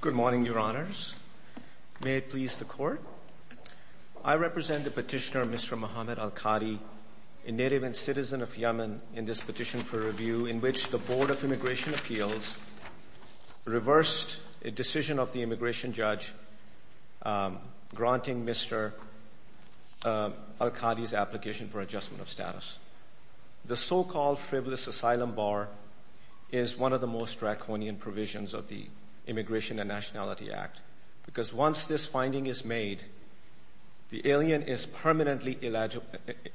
Good morning, Your Honors. May it please the Court. I represent the petitioner Mr. Mohamed Alkadhi, a native and citizen of Yemen, in this petition for review in which the Board of Immigration Appeals reversed a decision of the immigration judge granting Mr. Alkadhi's application for adjustment of status. The so-called frivolous asylum bar is one of the most draconian provisions of the immigration and Nationality Act because once this finding is made, the alien is permanently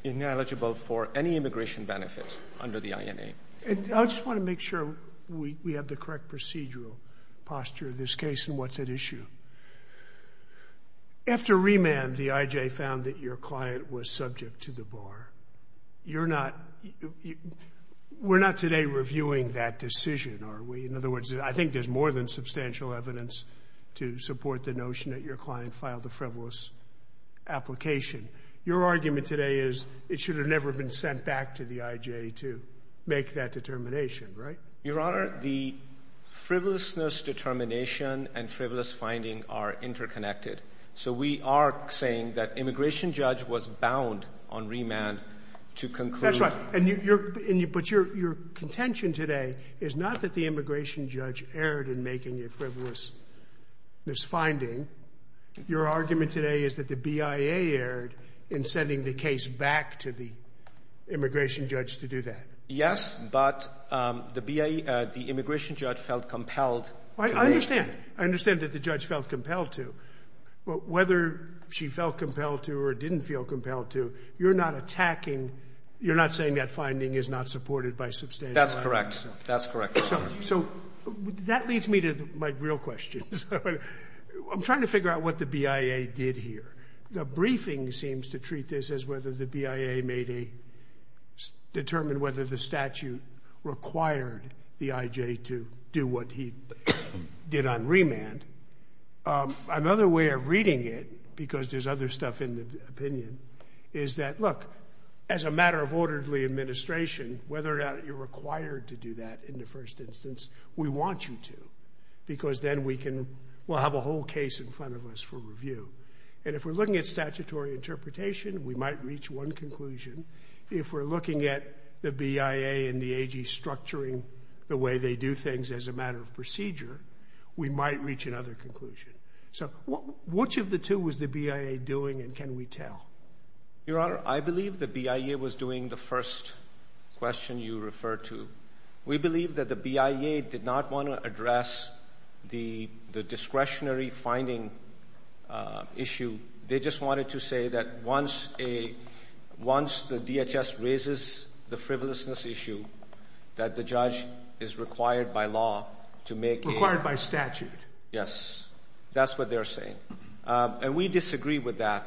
ineligible for any immigration benefits under the INA. I just want to make sure we have the correct procedural posture of this case and what's at issue. After remand, the IJ found that your client was subject to the bar. You're not, we're not today reviewing that decision, are we? In other words, I think there's more than substantial evidence to support the notion that your client filed the frivolous application. Your argument today is it should have never been sent back to the IJ to make that determination, right? Your Honor, the frivolousness determination and frivolous finding are interconnected, so we are saying that immigration judge was bound on remand to conclude. That's right, but your contention today is not that the immigration judge erred in making a frivolousness finding. Your argument today is that the BIA erred in sending the case back to the immigration judge to do that. Yes, but the BIA, the immigration judge felt compelled. I understand, I understand that the judge felt compelled to, but whether she felt compelled to or didn't feel compelled to, you're not attacking, you're not saying that finding is not supported by substantial evidence. That's correct, that's correct. So that leads me to my real question. I'm trying to figure out what the BIA did here. The briefing seems to treat this as whether the BIA made a, determined whether the statute required the IJ to do what he did on remand. Another way of reading it, because there's other stuff in the opinion, is that, look, as a matter of orderly administration, whether or not you're required to do that in the first instance, we want you to, because then we can, we'll have a whole case in front of us for review. And if we're looking at statutory interpretation, we might reach one conclusion. If we're looking at the BIA and the AG structuring the way they do things as a matter of procedure, we might reach another conclusion. So which of the two was the BIA doing and can we tell? Your Honor, I believe the BIA was doing the first question you referred to. We believe that the BIA did not want to address the discretionary finding issue. They just wanted to say that once a, once the DHS raises the frivolousness issue, that the judge is required by law to make a... Required by statute. Yes, that's what they're saying. And we disagree with that.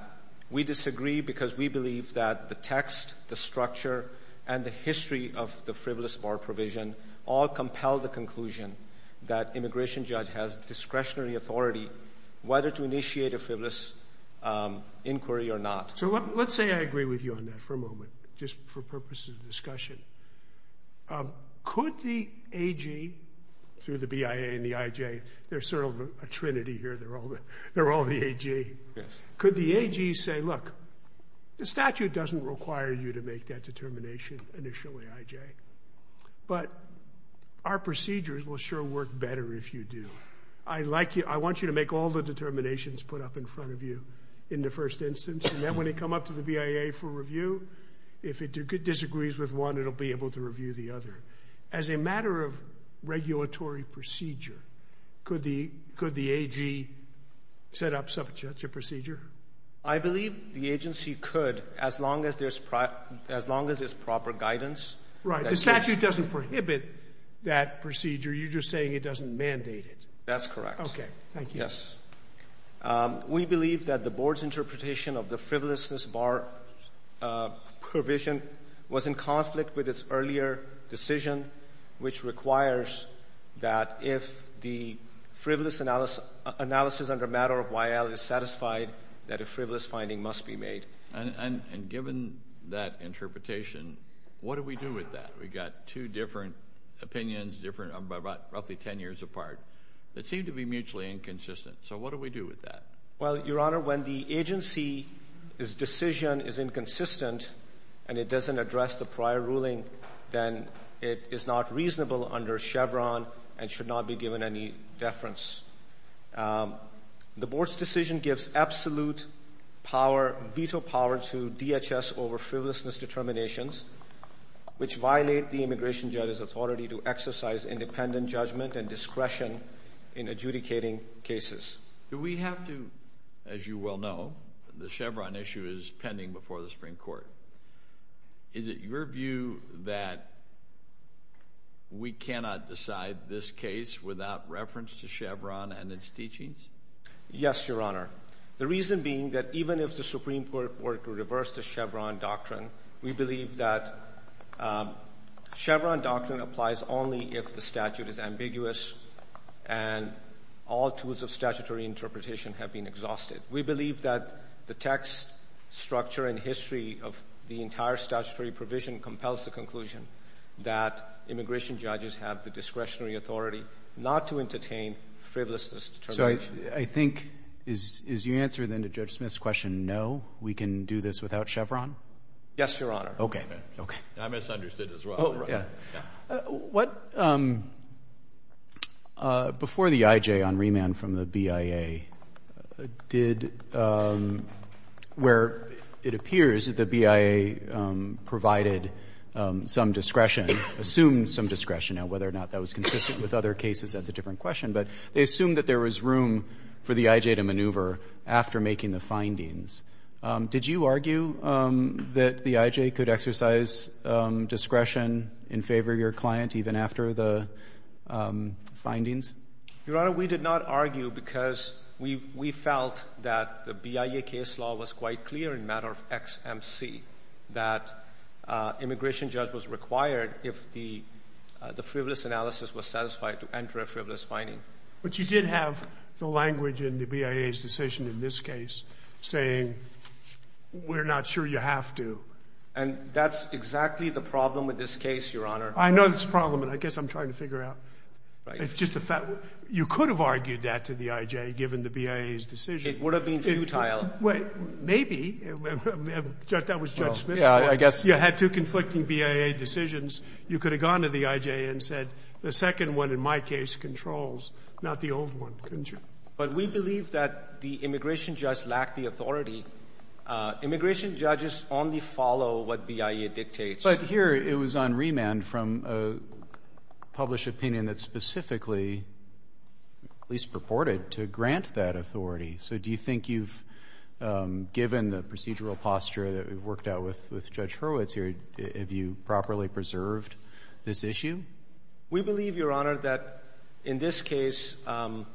We disagree because we believe that the text, the structure, and the history of the frivolous bar provision all compel the conclusion that immigration judge has discretionary authority whether to initiate a frivolous inquiry or not. So let's say I agree with you on that for a moment, just for purposes of discussion. Could the AG, through the BIA and the IJ, there's sort of a trinity here, they're all the AG. Yes. Could the AG say, look, the statute doesn't require you to make that determination initially, IJ, but our procedures will sure work better if you do. I like you, I want you to make all the determinations put up in front of you in the first instance and then when they come up to the BIA for review, if it disagrees with one, it'll be able to review the other. As a matter of regulatory procedure, could the AG set up such a procedure? I believe the agency could as long as there's proper guidance. Right. The statute doesn't prohibit that procedure, you're just saying it doesn't mandate it. That's correct. Okay. Thank you. Yes. We believe that the board's interpretation of the requires that if the frivolous analysis under matter of YL is satisfied, that a frivolous finding must be made. And given that interpretation, what do we do with that? We've got two different opinions, roughly 10 years apart, that seem to be mutually inconsistent. So what do we do with that? Well, Your Honor, when the agency's decision is inconsistent and it doesn't address the prior ruling, then it is not reasonable under Chevron and should not be given any deference. Um, the board's decision gives absolute power, veto power to DHS over frivolousness determinations, which violate the immigration judges authority to exercise independent judgment and discretion in adjudicating cases. Do we have to, as you well know, the Chevron issue is pending before the Supreme Court. Is it your view that we cannot decide this case without reference to Chevron and its teachings? Yes, Your Honor. The reason being that even if the Supreme Court were to reverse the Chevron doctrine, we believe that Chevron doctrine applies only if the statute is ambiguous and all tools of statutory interpretation have been the entire statutory provision compels the conclusion that immigration judges have the discretionary authority not to entertain frivolousness determinations. So I think, is your answer then to Judge Smith's question, no, we can do this without Chevron? Yes, Your Honor. Okay. Okay. I misunderstood as well. Oh, right. Yeah. What, um, uh, before the IJ on remand from the BIA did, um, where it appears that the BIA, um, provided, um, some discretion, assumed some discretion. Now, whether or not that was consistent with other cases, that's a different question. But they assumed that there was room for the IJ to maneuver after making the findings. Um, did you argue, um, that the IJ could exercise, um, discretion in favor of your client even after the, um, findings? Your Honor, we did not argue because we, we felt that the BIA case law was quite clear in matter of XMC, that, uh, immigration judge was required if the, uh, the frivolous analysis was satisfied to enter a frivolous finding. But you did have the language in the BIA's decision in this case saying, we're not sure you have to. And that's exactly the problem with this case, Your Honor. I know that's the problem, and I guess I'm trying to figure out. It's just a fact. You could have argued that to the IJ given the BIA's decision. It would have been futile. Well, maybe. That was Judge Smith. Yeah, I guess. You had two conflicting BIA decisions. You could have gone to the IJ and said, the second one in my case controls, not the old one, couldn't you? But we believe that the immigration judge lacked the authority. Immigration judges only follow what BIA dictates. But here, it was on remand from a published opinion that specifically, at least purported, to grant that authority. So do you think you've, um, given the procedural posture that we've worked out with Judge Hurwitz here, have you properly preserved this issue? We believe, Your Honor, that in this case, um,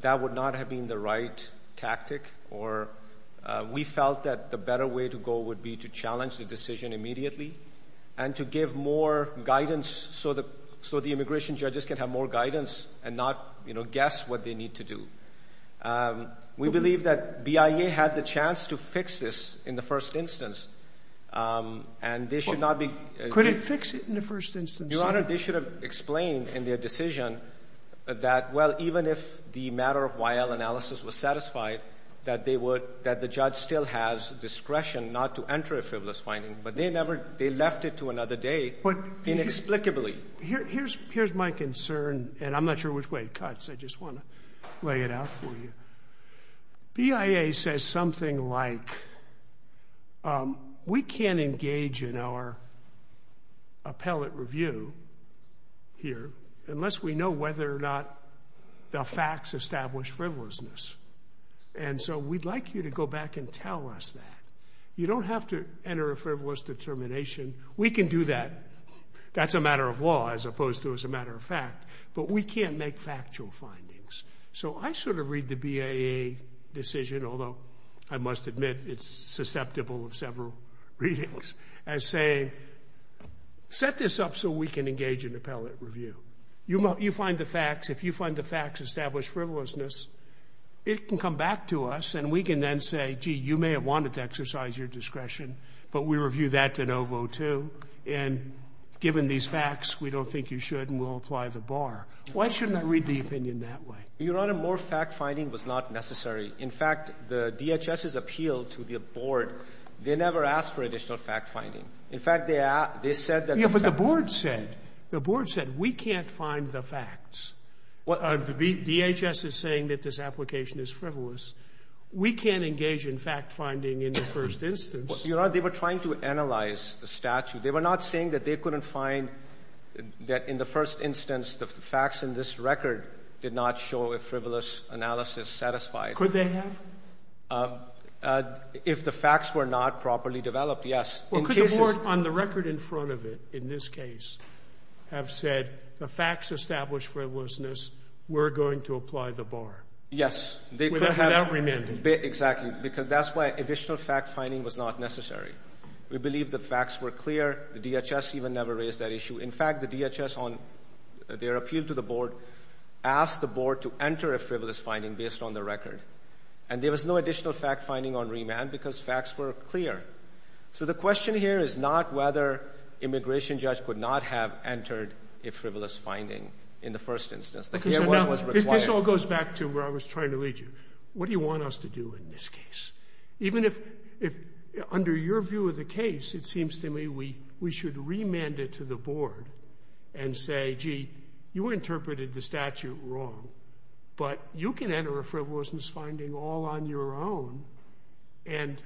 that would not have been the right tactic, or, uh, we felt that the better way to go would be to challenge the decision immediately and to give more guidance so the immigration judges can have more guidance and not, you know, guess what they need to do. Um, we believe that BIA had the chance to fix this in the first instance, um, and they should not be Could it fix it in the first instance? Your Honor, they should have explained in their decision that, well, even if the matter of YL analysis was satisfied, that they would, that the judge still has discretion not to enter a frivolous finding, but they never, they left it to another day inexplicably. Here, here's, here's my concern, and I'm not sure which way it cuts. I just want to lay it out for you. BIA says something like, um, we can't engage in our appellate review here unless we know whether or not the facts establish frivolousness. And so we'd like you to go back and tell us that. You don't have to enter a frivolous determination. We can do that. That's a matter of law as opposed to as a matter of fact, but we can't make factual findings. So I sort of read the BIA decision, although I must admit it's susceptible of several readings, as saying, set this up so we can engage in appellate review. You find the facts. If you find the facts establish frivolousness, it can come back to us, and we can then say, gee, you may have wanted to exercise your discretion, but we review that de novo, too. And given these facts, we don't think you should, and we'll apply the bar. Why shouldn't I read the opinion that way? Your Honor, more fact-finding was not necessary. In fact, the DHS's appeal to the Board, they never asked for additional fact-finding. In fact, they said that the fact The Board said we can't find the facts. The DHS is saying that this application is frivolous. We can't engage in fact-finding in the first instance. Your Honor, they were trying to analyze the statute. They were not saying that they couldn't find that in the first instance the facts in this record did not show a frivolous analysis satisfied. Could they have? If the facts were not properly developed, yes. Well, could the Board, on the record in front of it, in this case, have said the facts established frivolousness, we're going to apply the bar? Yes. Without remanding. Exactly. Because that's why additional fact-finding was not necessary. We believe the facts were clear. The DHS even never raised that issue. In fact, the DHS, on their appeal to the Board, asked the Board to enter a frivolous finding based on the record. And there was no additional fact-finding on remand because facts were clear. So the question here is not whether immigration judge could not have entered a frivolous finding in the first instance. Because this all goes back to where I was trying to lead you. What do you want us to do in this case? Even if, under your view of the case, it seems to me we should remand it to the Board and say, gee, you interpreted the statute wrong, but you can enter a frivolousness finding all on your own, and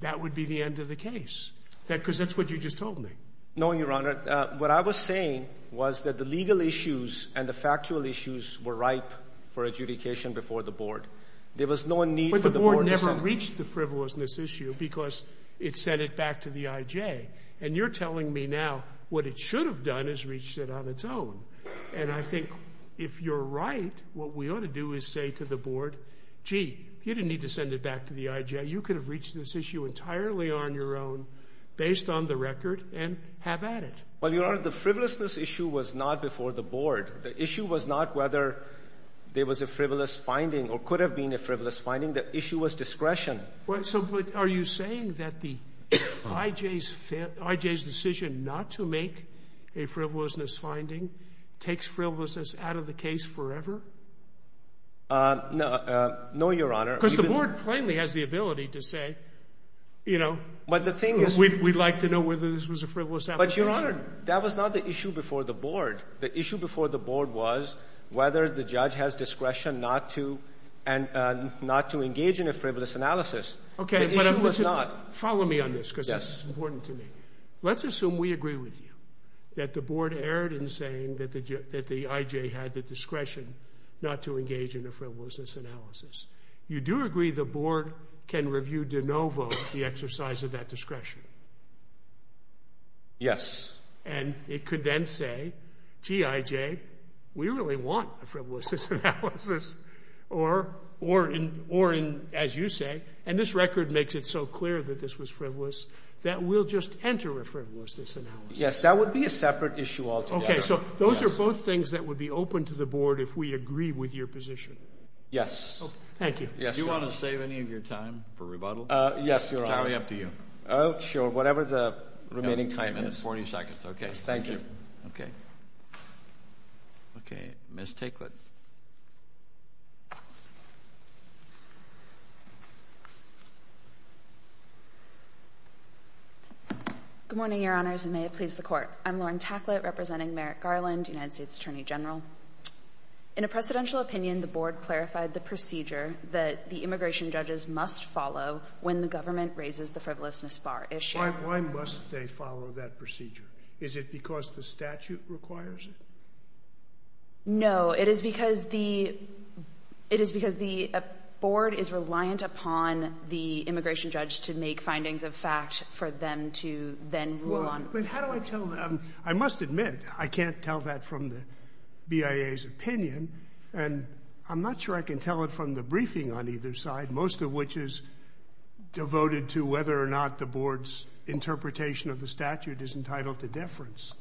that would be the end of the case. Because that's what you just told me. No, Your Honor. What I was saying was that the legal issues and the factual issues were ripe for adjudication before the Board. There was no need for the Board to send it. But the Board never reached the frivolousness issue because it sent it back to the IJ. And you're telling me now what it should have done is reached it on its own. And I think if you're right, what we ought to do is say to the Board, gee, you didn't need to send it back to the IJ. You could have reached this issue entirely on your own based on the record and have at it. Well, Your Honor, the frivolousness issue was not before the Board. The issue was not whether there was a frivolous finding or could have been a frivolous finding. The issue was discretion. No, Your Honor. Because the Board plainly has the ability to say, you know, we'd like to know whether this was a frivolous application. But, Your Honor, that was not the issue before the Board. The issue before the Board was whether the judge has discretion not to engage in a frivolous analysis. Okay, but listen. The issue was not. Follow me on this because this is important to me. Let's assume we agree with you that the Board erred in saying that the IJ had the discretion not to engage in a frivolousness analysis. You do agree the Board can review de novo the exercise of that discretion? Yes. And it could then say, gee, IJ, we really want a frivolousness analysis or, as you say, and this record makes it so clear that this was frivolous, that we'll just enter a frivolousness analysis. Yes, that would be a separate issue altogether. Okay, so those are both things that would be open to the Board if we agree with your Yes. Thank you. Yes, sir. Do you want to save any of your time for rebuttal? Yes, Your Honor. It's probably up to you. Oh, sure. Whatever the remaining time is. 40 seconds. Okay. Thank you. Okay. Okay. Okay. Ms. Tacklett. Good morning, Your Honors, and may it please the Court. I'm Lauren Tacklett representing Merrick Garland, United States Attorney General. In a precedential opinion, the Board clarified the procedure that the immigration judges must follow when the government raises the frivolousness bar issue. Why must they follow that procedure? Is it because the statute requires it? No. It is because the Board is reliant upon the immigration judge to make findings of fact for them to then rule on. But how do I tell them? I must admit, I can't tell that from the BIA's opinion, and I'm not sure I can tell it from the briefing on either side, most of which is devoted to whether or not the difference.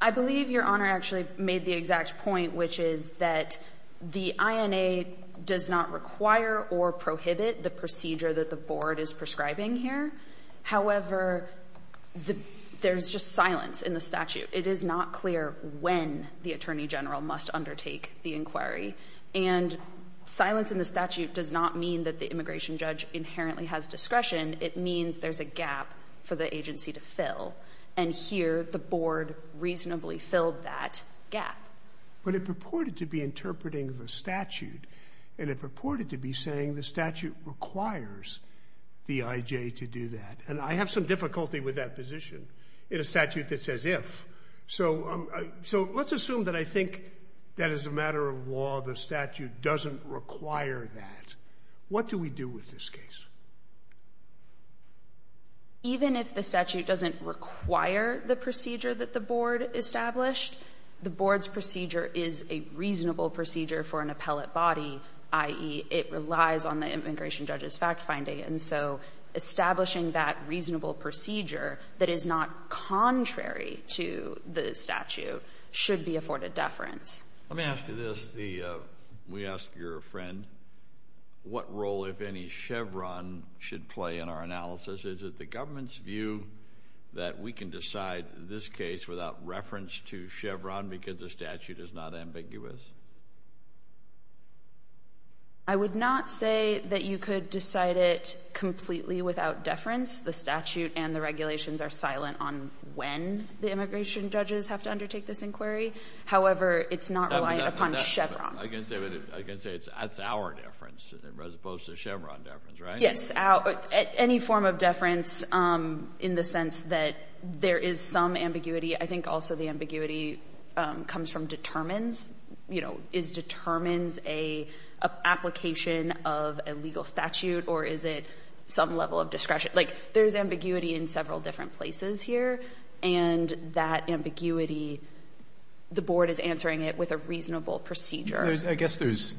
I believe Your Honor actually made the exact point, which is that the INA does not require or prohibit the procedure that the Board is prescribing here. However, there's just silence in the statute. It is not clear when the Attorney General must undertake the inquiry, and silence in the statute does not mean that the immigration judge inherently has discretion. It means there's a gap for the agency to fill. And here, the Board reasonably filled that gap. But it purported to be interpreting the statute, and it purported to be saying the statute requires the IJ to do that. And I have some difficulty with that position in a statute that says if. So let's assume that I think that as a matter of law, the statute doesn't require that. What do we do with this case? Even if the statute doesn't require the procedure that the Board established, the Board's procedure is a reasonable procedure for an appellate body, i.e., it relies on the immigration judge's fact-finding. And so establishing that reasonable procedure that is not contrary to the statute should be afforded deference. Let me ask you this. We asked your friend what role, if any, Chevron should play in our analysis. Is it the government's view that we can decide this case without reference to Chevron because the statute is not ambiguous? I would not say that you could decide it completely without deference. The statute and the regulations are silent on when the immigration judges have to undertake this inquiry. However, it's not reliant upon Chevron. I can say it's our deference as opposed to Chevron deference, right? Yes. Any form of deference in the sense that there is some ambiguity. I think also the ambiguity comes from determines. Is determines an application of a legal statute or is it some level of discretion? There's ambiguity in several different places here, and that ambiguity, the board is answering it with a reasonable procedure. I guess there's,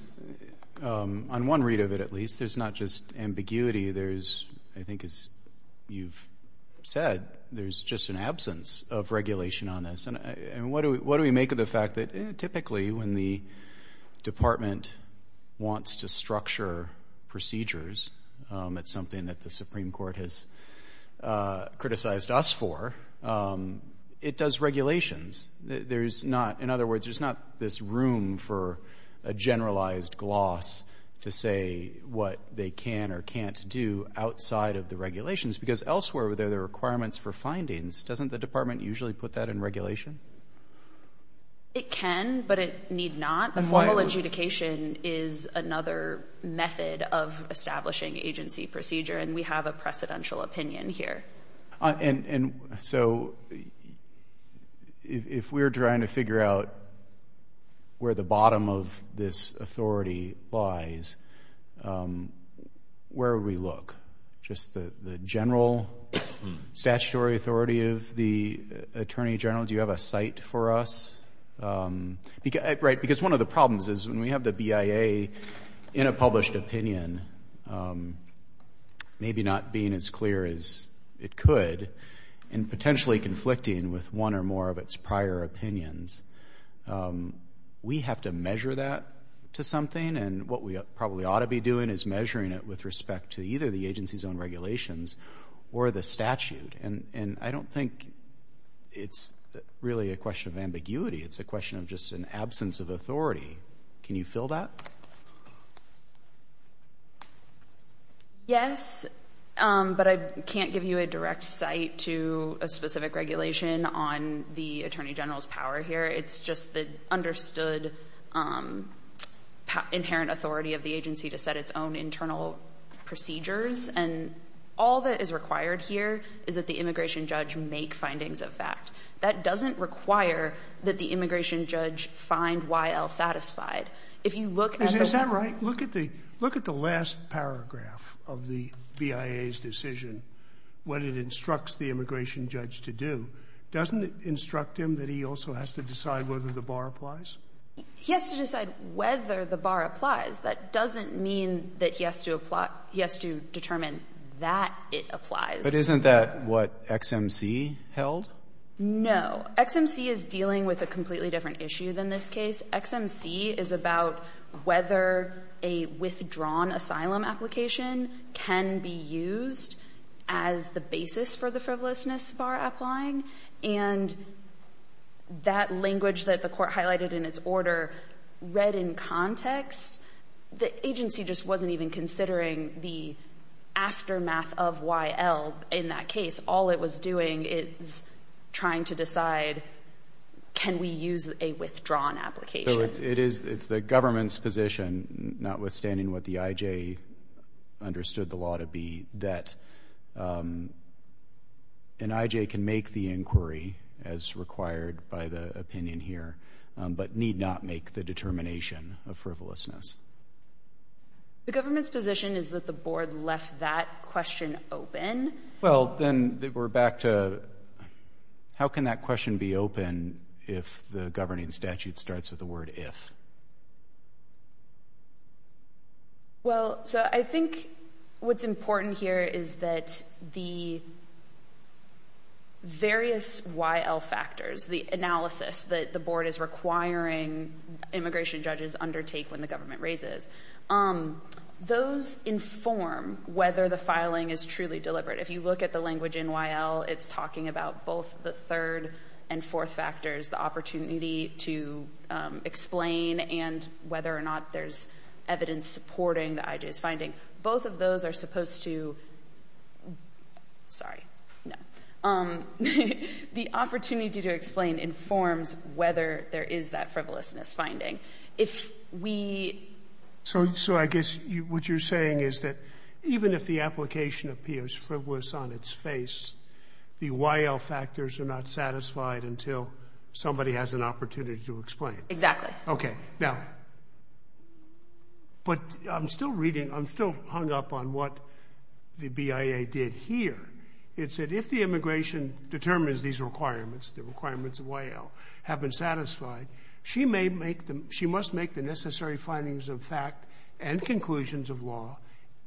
on one read of it at least, there's not just ambiguity. I think as you've said, there's just an absence of regulation on this. What do we make of the fact that typically when the department wants to do something that it has criticized us for, it does regulations? There's not, in other words, there's not this room for a generalized gloss to say what they can or can't do outside of the regulations because elsewhere there are requirements for findings. Doesn't the department usually put that in regulation? It can, but it need not. The formal adjudication is another method of establishing agency procedure, and we have a precedential opinion here. So if we're trying to figure out where the bottom of this authority lies, where would we look? Just the general statutory authority of the attorney general? Do you have a site for us? Because one of the problems is when we have the BIA in a published opinion, maybe not being as clear as it could, and potentially conflicting with one or more of its prior opinions, we have to measure that to something, and what we probably ought to be doing is measuring it with respect to either the agency's own regulations or the statute. And I don't think it's really a question of ambiguity. It's a question of just an absence of authority. Can you fill that? Yes, but I can't give you a direct site to a specific regulation on the attorney general's power here. It's just the understood inherent authority of the agency to set its own internal procedures. And all that is required here is that the immigration judge make findings of fact. That doesn't require that the immigration judge find YL satisfied. If you look at the law ---- Is that right? Look at the last paragraph of the BIA's decision, what it instructs the immigration judge to do. Doesn't it instruct him that he also has to decide whether the bar applies? He has to decide whether the bar applies. That doesn't mean that he has to apply ---- he has to determine that it applies. But isn't that what XMC held? No. XMC is dealing with a completely different issue than this case. XMC is about whether a withdrawn asylum application can be used as the basis for the frivolousness bar applying. And that language that the court highlighted in its order read in context. The agency just wasn't even considering the aftermath of YL in that case. All it was doing is trying to decide can we use a withdrawn application. It's the government's position, notwithstanding what the IJ understood the law to be, that an IJ can make the inquiry as required by the opinion here but need not make the determination of frivolousness. The government's position is that the board left that question open. Well, then we're back to how can that question be open if the governing statute starts with the word if? Well, so I think what's important here is that the various YL factors, the analysis that the board is requiring immigration judges undertake when the government raises, those inform whether the filing is truly deliberate. If you look at the language in YL, it's talking about both the third and fourth factors, the opportunity to explain and whether or not there's evidence supporting the IJ's finding. Both of those are supposed to... Sorry. No. The opportunity to explain informs whether there is that frivolousness finding. If we... So I guess what you're saying is that even if the application appears frivolous on its face, the YL factors are not satisfied until somebody has an opportunity to explain. Exactly. Okay. Now... But I'm still reading, I'm still hung up on what the BIA did here. It said if the immigration determines these requirements, the requirements of YL, have been satisfied, she must make the necessary findings of fact and conclusions of law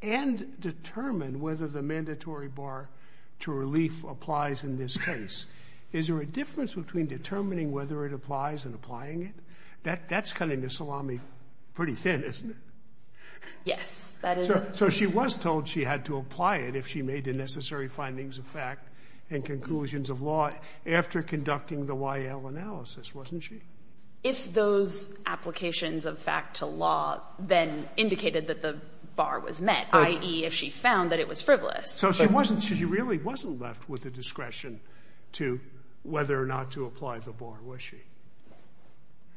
and determine whether the mandatory bar to relief applies in this case. Is there a difference between determining whether it applies and applying it? That's cutting the salami pretty thin, isn't it? Yes. That is... So she was told she had to apply it if she made the necessary findings of fact and conclusions of law after conducting the YL analysis, wasn't she? If those applications of fact to law then indicated that the bar was met, i.e., if she found that it was frivolous. So she really wasn't left with the discretion to whether or not to apply the bar, was she?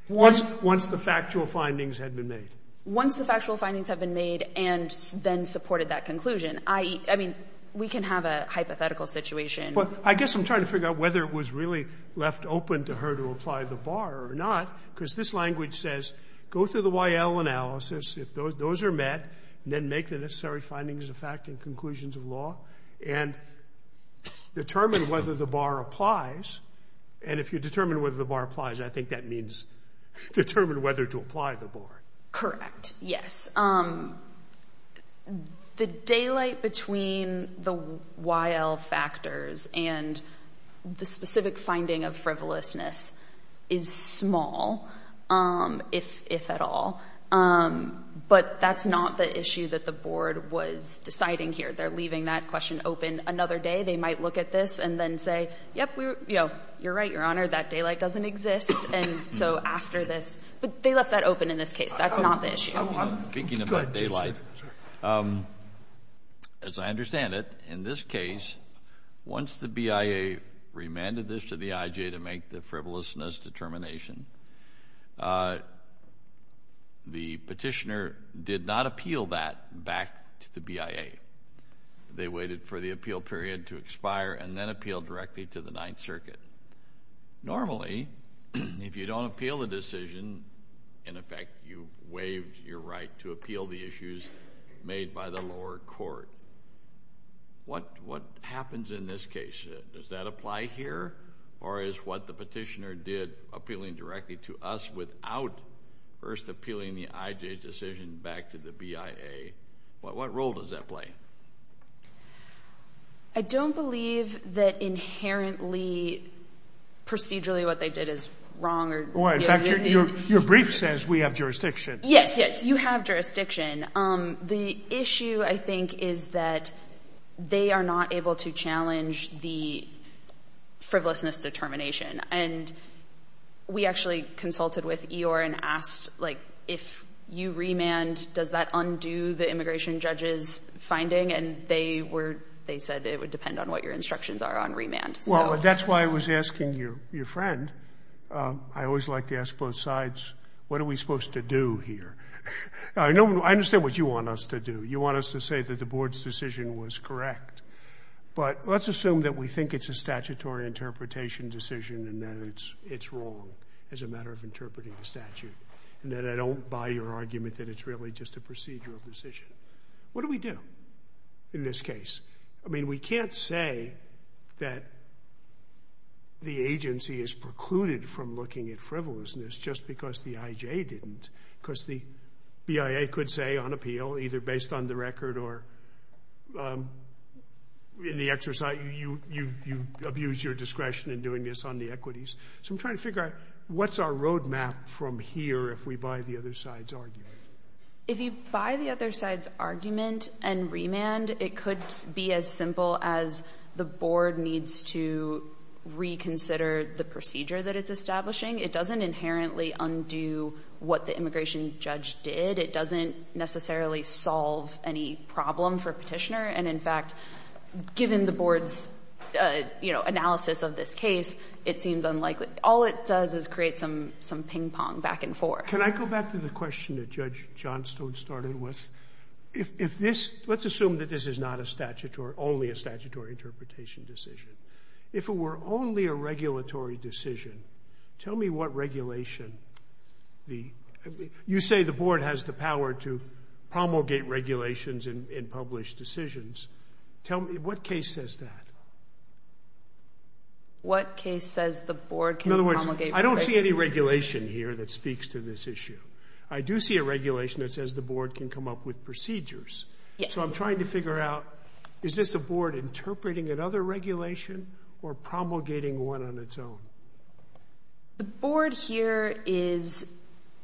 Once the factual findings had been made. Once the factual findings had been made and then supported that conclusion. I mean, we can have a hypothetical situation. I guess I'm trying to figure out whether it was really left open to her to apply the bar or not, because this language says go through the YL analysis, if those are met, then make the necessary findings of fact and conclusions of law and determine whether the bar applies. And if you determine whether the bar applies, I think that means determine whether to apply the bar. Correct. Yes. The daylight between the YL factors and the specific finding of frivolousness is small, if at all. But that's not the issue that the Board was deciding here. They're leaving that question open another day. They might look at this and then say, yep, you're right, Your Honor, that daylight doesn't exist. And so after this they left that open in this case. That's not the issue. I'm speaking about daylight. As I understand it, in this case, once the BIA remanded this to the IJ to make the frivolousness determination, the petitioner did not appeal that back to the BIA. They waited for the appeal period to expire and then appealed directly to the Ninth Circuit. Normally, if you don't appeal the decision, in effect, you waived your right to appeal the issues made by the lower court. What happens in this case? Does that apply here, or is what the petitioner did appealing directly to us without first appealing the IJ decision back to the BIA? What role does that play? I don't believe that inherently, procedurally, what they did is wrong. In fact, your brief says we have jurisdiction. Yes, yes, you have jurisdiction. The issue, I think, is that they are not able to challenge the frivolousness determination. And we actually consulted with Eeyore and asked, like, if you remand, does that undo the immigration judge's finding? And they said it would depend on what your instructions are on remand. Well, that's why I was asking your friend. I always like to ask both sides, what are we supposed to do here? I understand what you want us to do. You want us to say that the board's decision was correct. But let's assume that we think it's a statutory interpretation decision and that it's wrong as a matter of interpreting the statute, and that I don't buy your argument that it's really just a procedural decision. What do we do in this case? I mean, we can't say that the agency is precluded from looking at frivolousness just because the I.J. didn't, because the BIA could say on appeal, either based on the record or in the exercise, you abuse your discretion in doing this on the equities. So I'm trying to figure out, what's our road map from here if we buy the other side's argument? If you buy the other side's argument and remand, it could be as simple as the board needs to reconsider the procedure that it's establishing. It doesn't inherently undo what the immigration judge did. It doesn't necessarily solve any problem for a petitioner. And in fact, given the board's, you know, analysis of this case, it seems unlikely. All it does is create some ping-pong back and forth. Can I go back to the question that Judge Johnstone started with? If this... Let's assume that this is not a statutory... only a statutory interpretation decision. If it were only a regulatory decision, tell me what regulation the... You say the board has the power to promulgate regulations in published decisions. Tell me, what case says that? What case says the board can promulgate... In other words, I don't see any regulation here that speaks to this issue. I do see a regulation that says the board can come up with procedures. So I'm trying to figure out, is this a board interpreting another regulation or promulgating one on its own? The board here is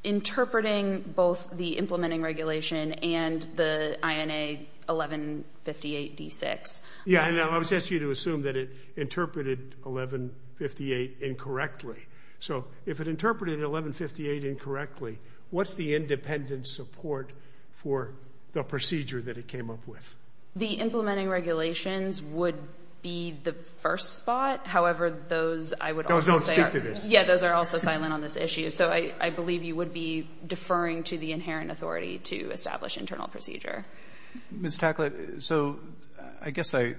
interpreting both the implementing regulation and the INA 1158-D6. Yeah, and I was asking you to assume that it interpreted 1158 incorrectly. So if it interpreted 1158 incorrectly, what's the independent support for the procedure that it came up with? The implementing regulations would be the first spot. However, those, I would also say... Those don't speak to this. Yeah, those are also silent on this issue. So I believe you would be deferring to the inherent authority to establish internal procedure. Ms. Tacklett, so I guess I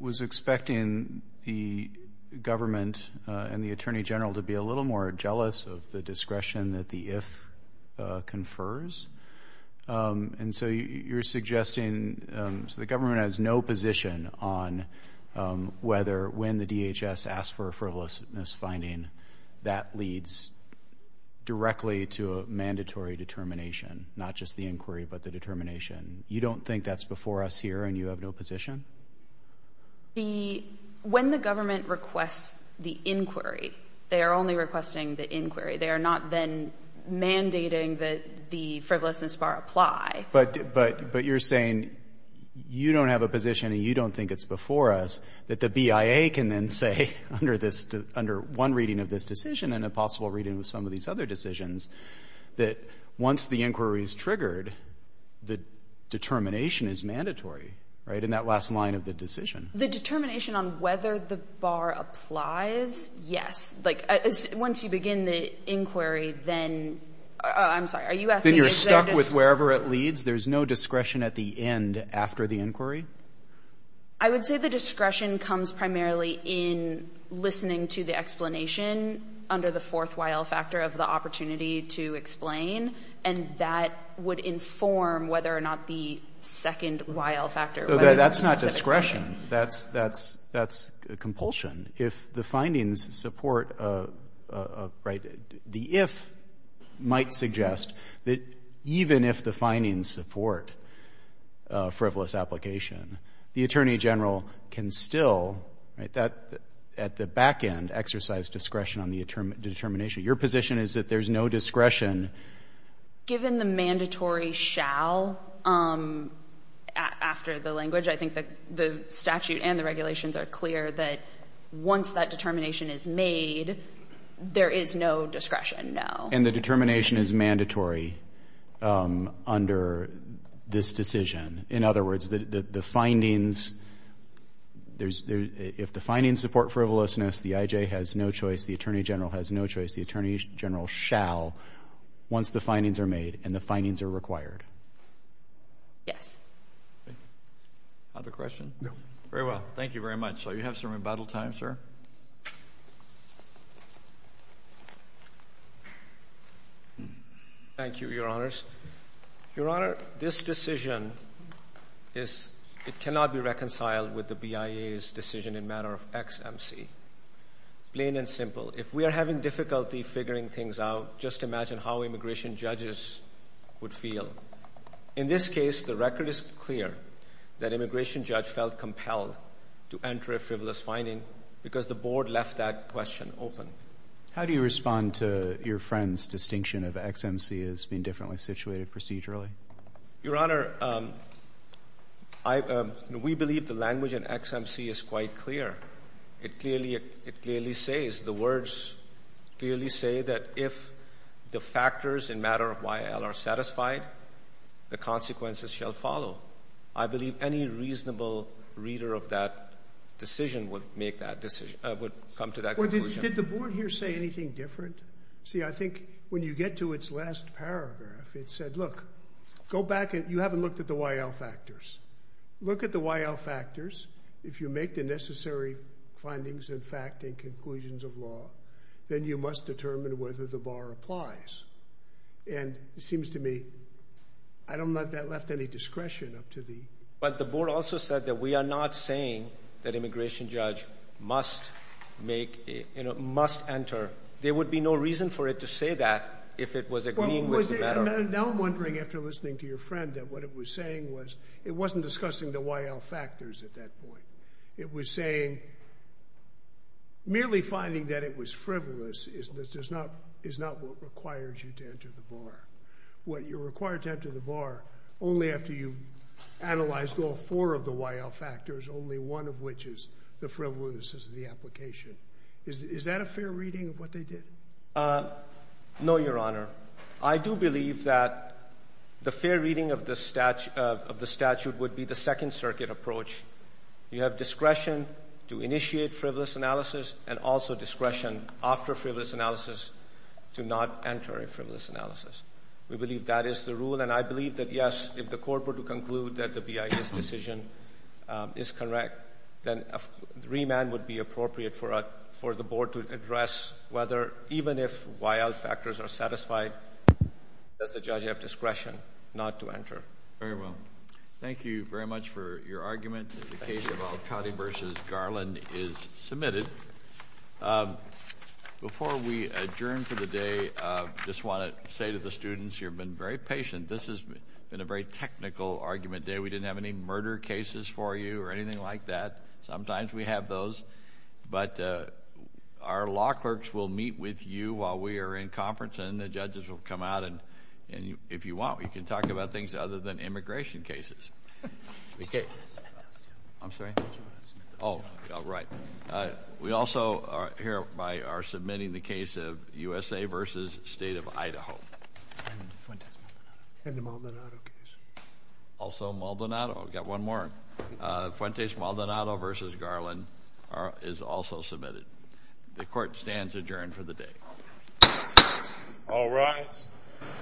was expecting the government and the attorney general to be a little more jealous of the discretion that the if confers. And so you're suggesting... So the government has no position on whether when the DHS asks for a frivolous misfinding, that leads directly to a mandatory determination, not just the inquiry, but the determination. You don't think that's before us here, and you have no position? The... When the government requests the inquiry, they are only requesting the inquiry. They are not then mandating that the frivolousness bar apply. But you're saying you don't have a position and you don't think it's before us that the BIA can then say, under one reading of this decision and a possible reading of some of these other decisions, that once the inquiry is triggered, the determination is mandatory, right? In that last line of the decision. The determination on whether the bar applies, yes. Like, once you begin the inquiry, then... I'm sorry, are you asking... Then you're stuck with wherever it leads? There's no discretion at the end after the inquiry? I would say the discretion comes primarily in listening to the explanation under the fourth Y.L. factor of the opportunity to explain, and that would inform whether or not the second Y.L. factor... Okay, that's not discretion. That's compulsion. If the findings support... Right? The if might suggest that even if the findings support frivolous application, the attorney general can still, right, at the back end, exercise discretion on the determination. Your position is that there's no discretion... Given the mandatory shall, after the language, I think the statute and the regulations are clear that once that determination is made, there is no discretion, no. And the determination is mandatory under this decision. In other words, the findings... If the findings support frivolousness, the I.J. has no choice, the attorney general has no choice, the attorney general shall, once the findings are made and the findings are required. Yes. Other questions? Very well. Thank you very much. You have some rebuttal time, sir. Thank you, Your Honors. Your Honor, this decision is... It cannot be reconciled with the BIA's decision in matter of XMC. Plain and simple. If we are having difficulty figuring things out, just imagine how immigration judges would feel. In this case, the record is clear that immigration judge felt compelled to enter a frivolous finding because the board left that question open. How do you respond to your friend's distinction of XMC as being differently situated procedurally? Your Honor, we believe the language in XMC is quite clear. It clearly says, the words clearly say that if the factors in matter of Y.L. are satisfied, the consequences shall follow. I believe any reasonable reader of that decision would make that decision, would come to that conclusion. Did the board here say anything different? See, I think when you get to its last paragraph, it said, look, go back, you haven't looked at the Y.L. factors. Look at the Y.L. factors if you make the necessary findings and fact and conclusions of law, then you must determine whether the bar applies. And it seems to me, I don't know if that left any discretion up to the... But the board also said that we are not saying that immigration judge must make, you know, must enter. There would be no reason for it to say that if it was agreeing with the matter. Now I'm wondering, after listening to your friend, that what it was saying was, it wasn't discussing the Y.L. factors at that point. It was saying... Merely finding that it was frivolous is not what requires you to enter the bar. What you're required to enter the bar, only after you've analyzed all four of the Y.L. factors, only one of which is the frivolousness of the application. Is that a fair reading of what they did? Uh, no, Your Honor. I do believe that the fair reading of the statute would be the Second Circuit approach. You have discretion to initiate frivolous analysis and also discretion after frivolous analysis to not enter a frivolous analysis. We believe that is the rule, and I believe that, yes, if the court were to conclude that the BIA's decision is correct, then a remand would be appropriate for the board to address whether, even if Y.L. factors are satisfied, does the judge have discretion not to enter. Very well. Thank you very much for your argument. The case of Alcotti v. Garland is submitted. Before we adjourn for the day, I just want to say to the students, you've been very patient. This has been a very technical argument day. We didn't have any murder cases for you or anything like that. Sometimes we have those, but our law clerks will meet with you while we are in conference, and the judges will come out, and if you want, we can talk about things other than immigration cases. I'm sorry? Oh, right. We also hereby are submitting the case of USA v. State of Idaho. And Fuentes-Maldonado. And the Maldonado case. Also Maldonado. Got one more. Fuentes-Maldonado v. Garland is also submitted. The court stands adjourned for the day. All rise.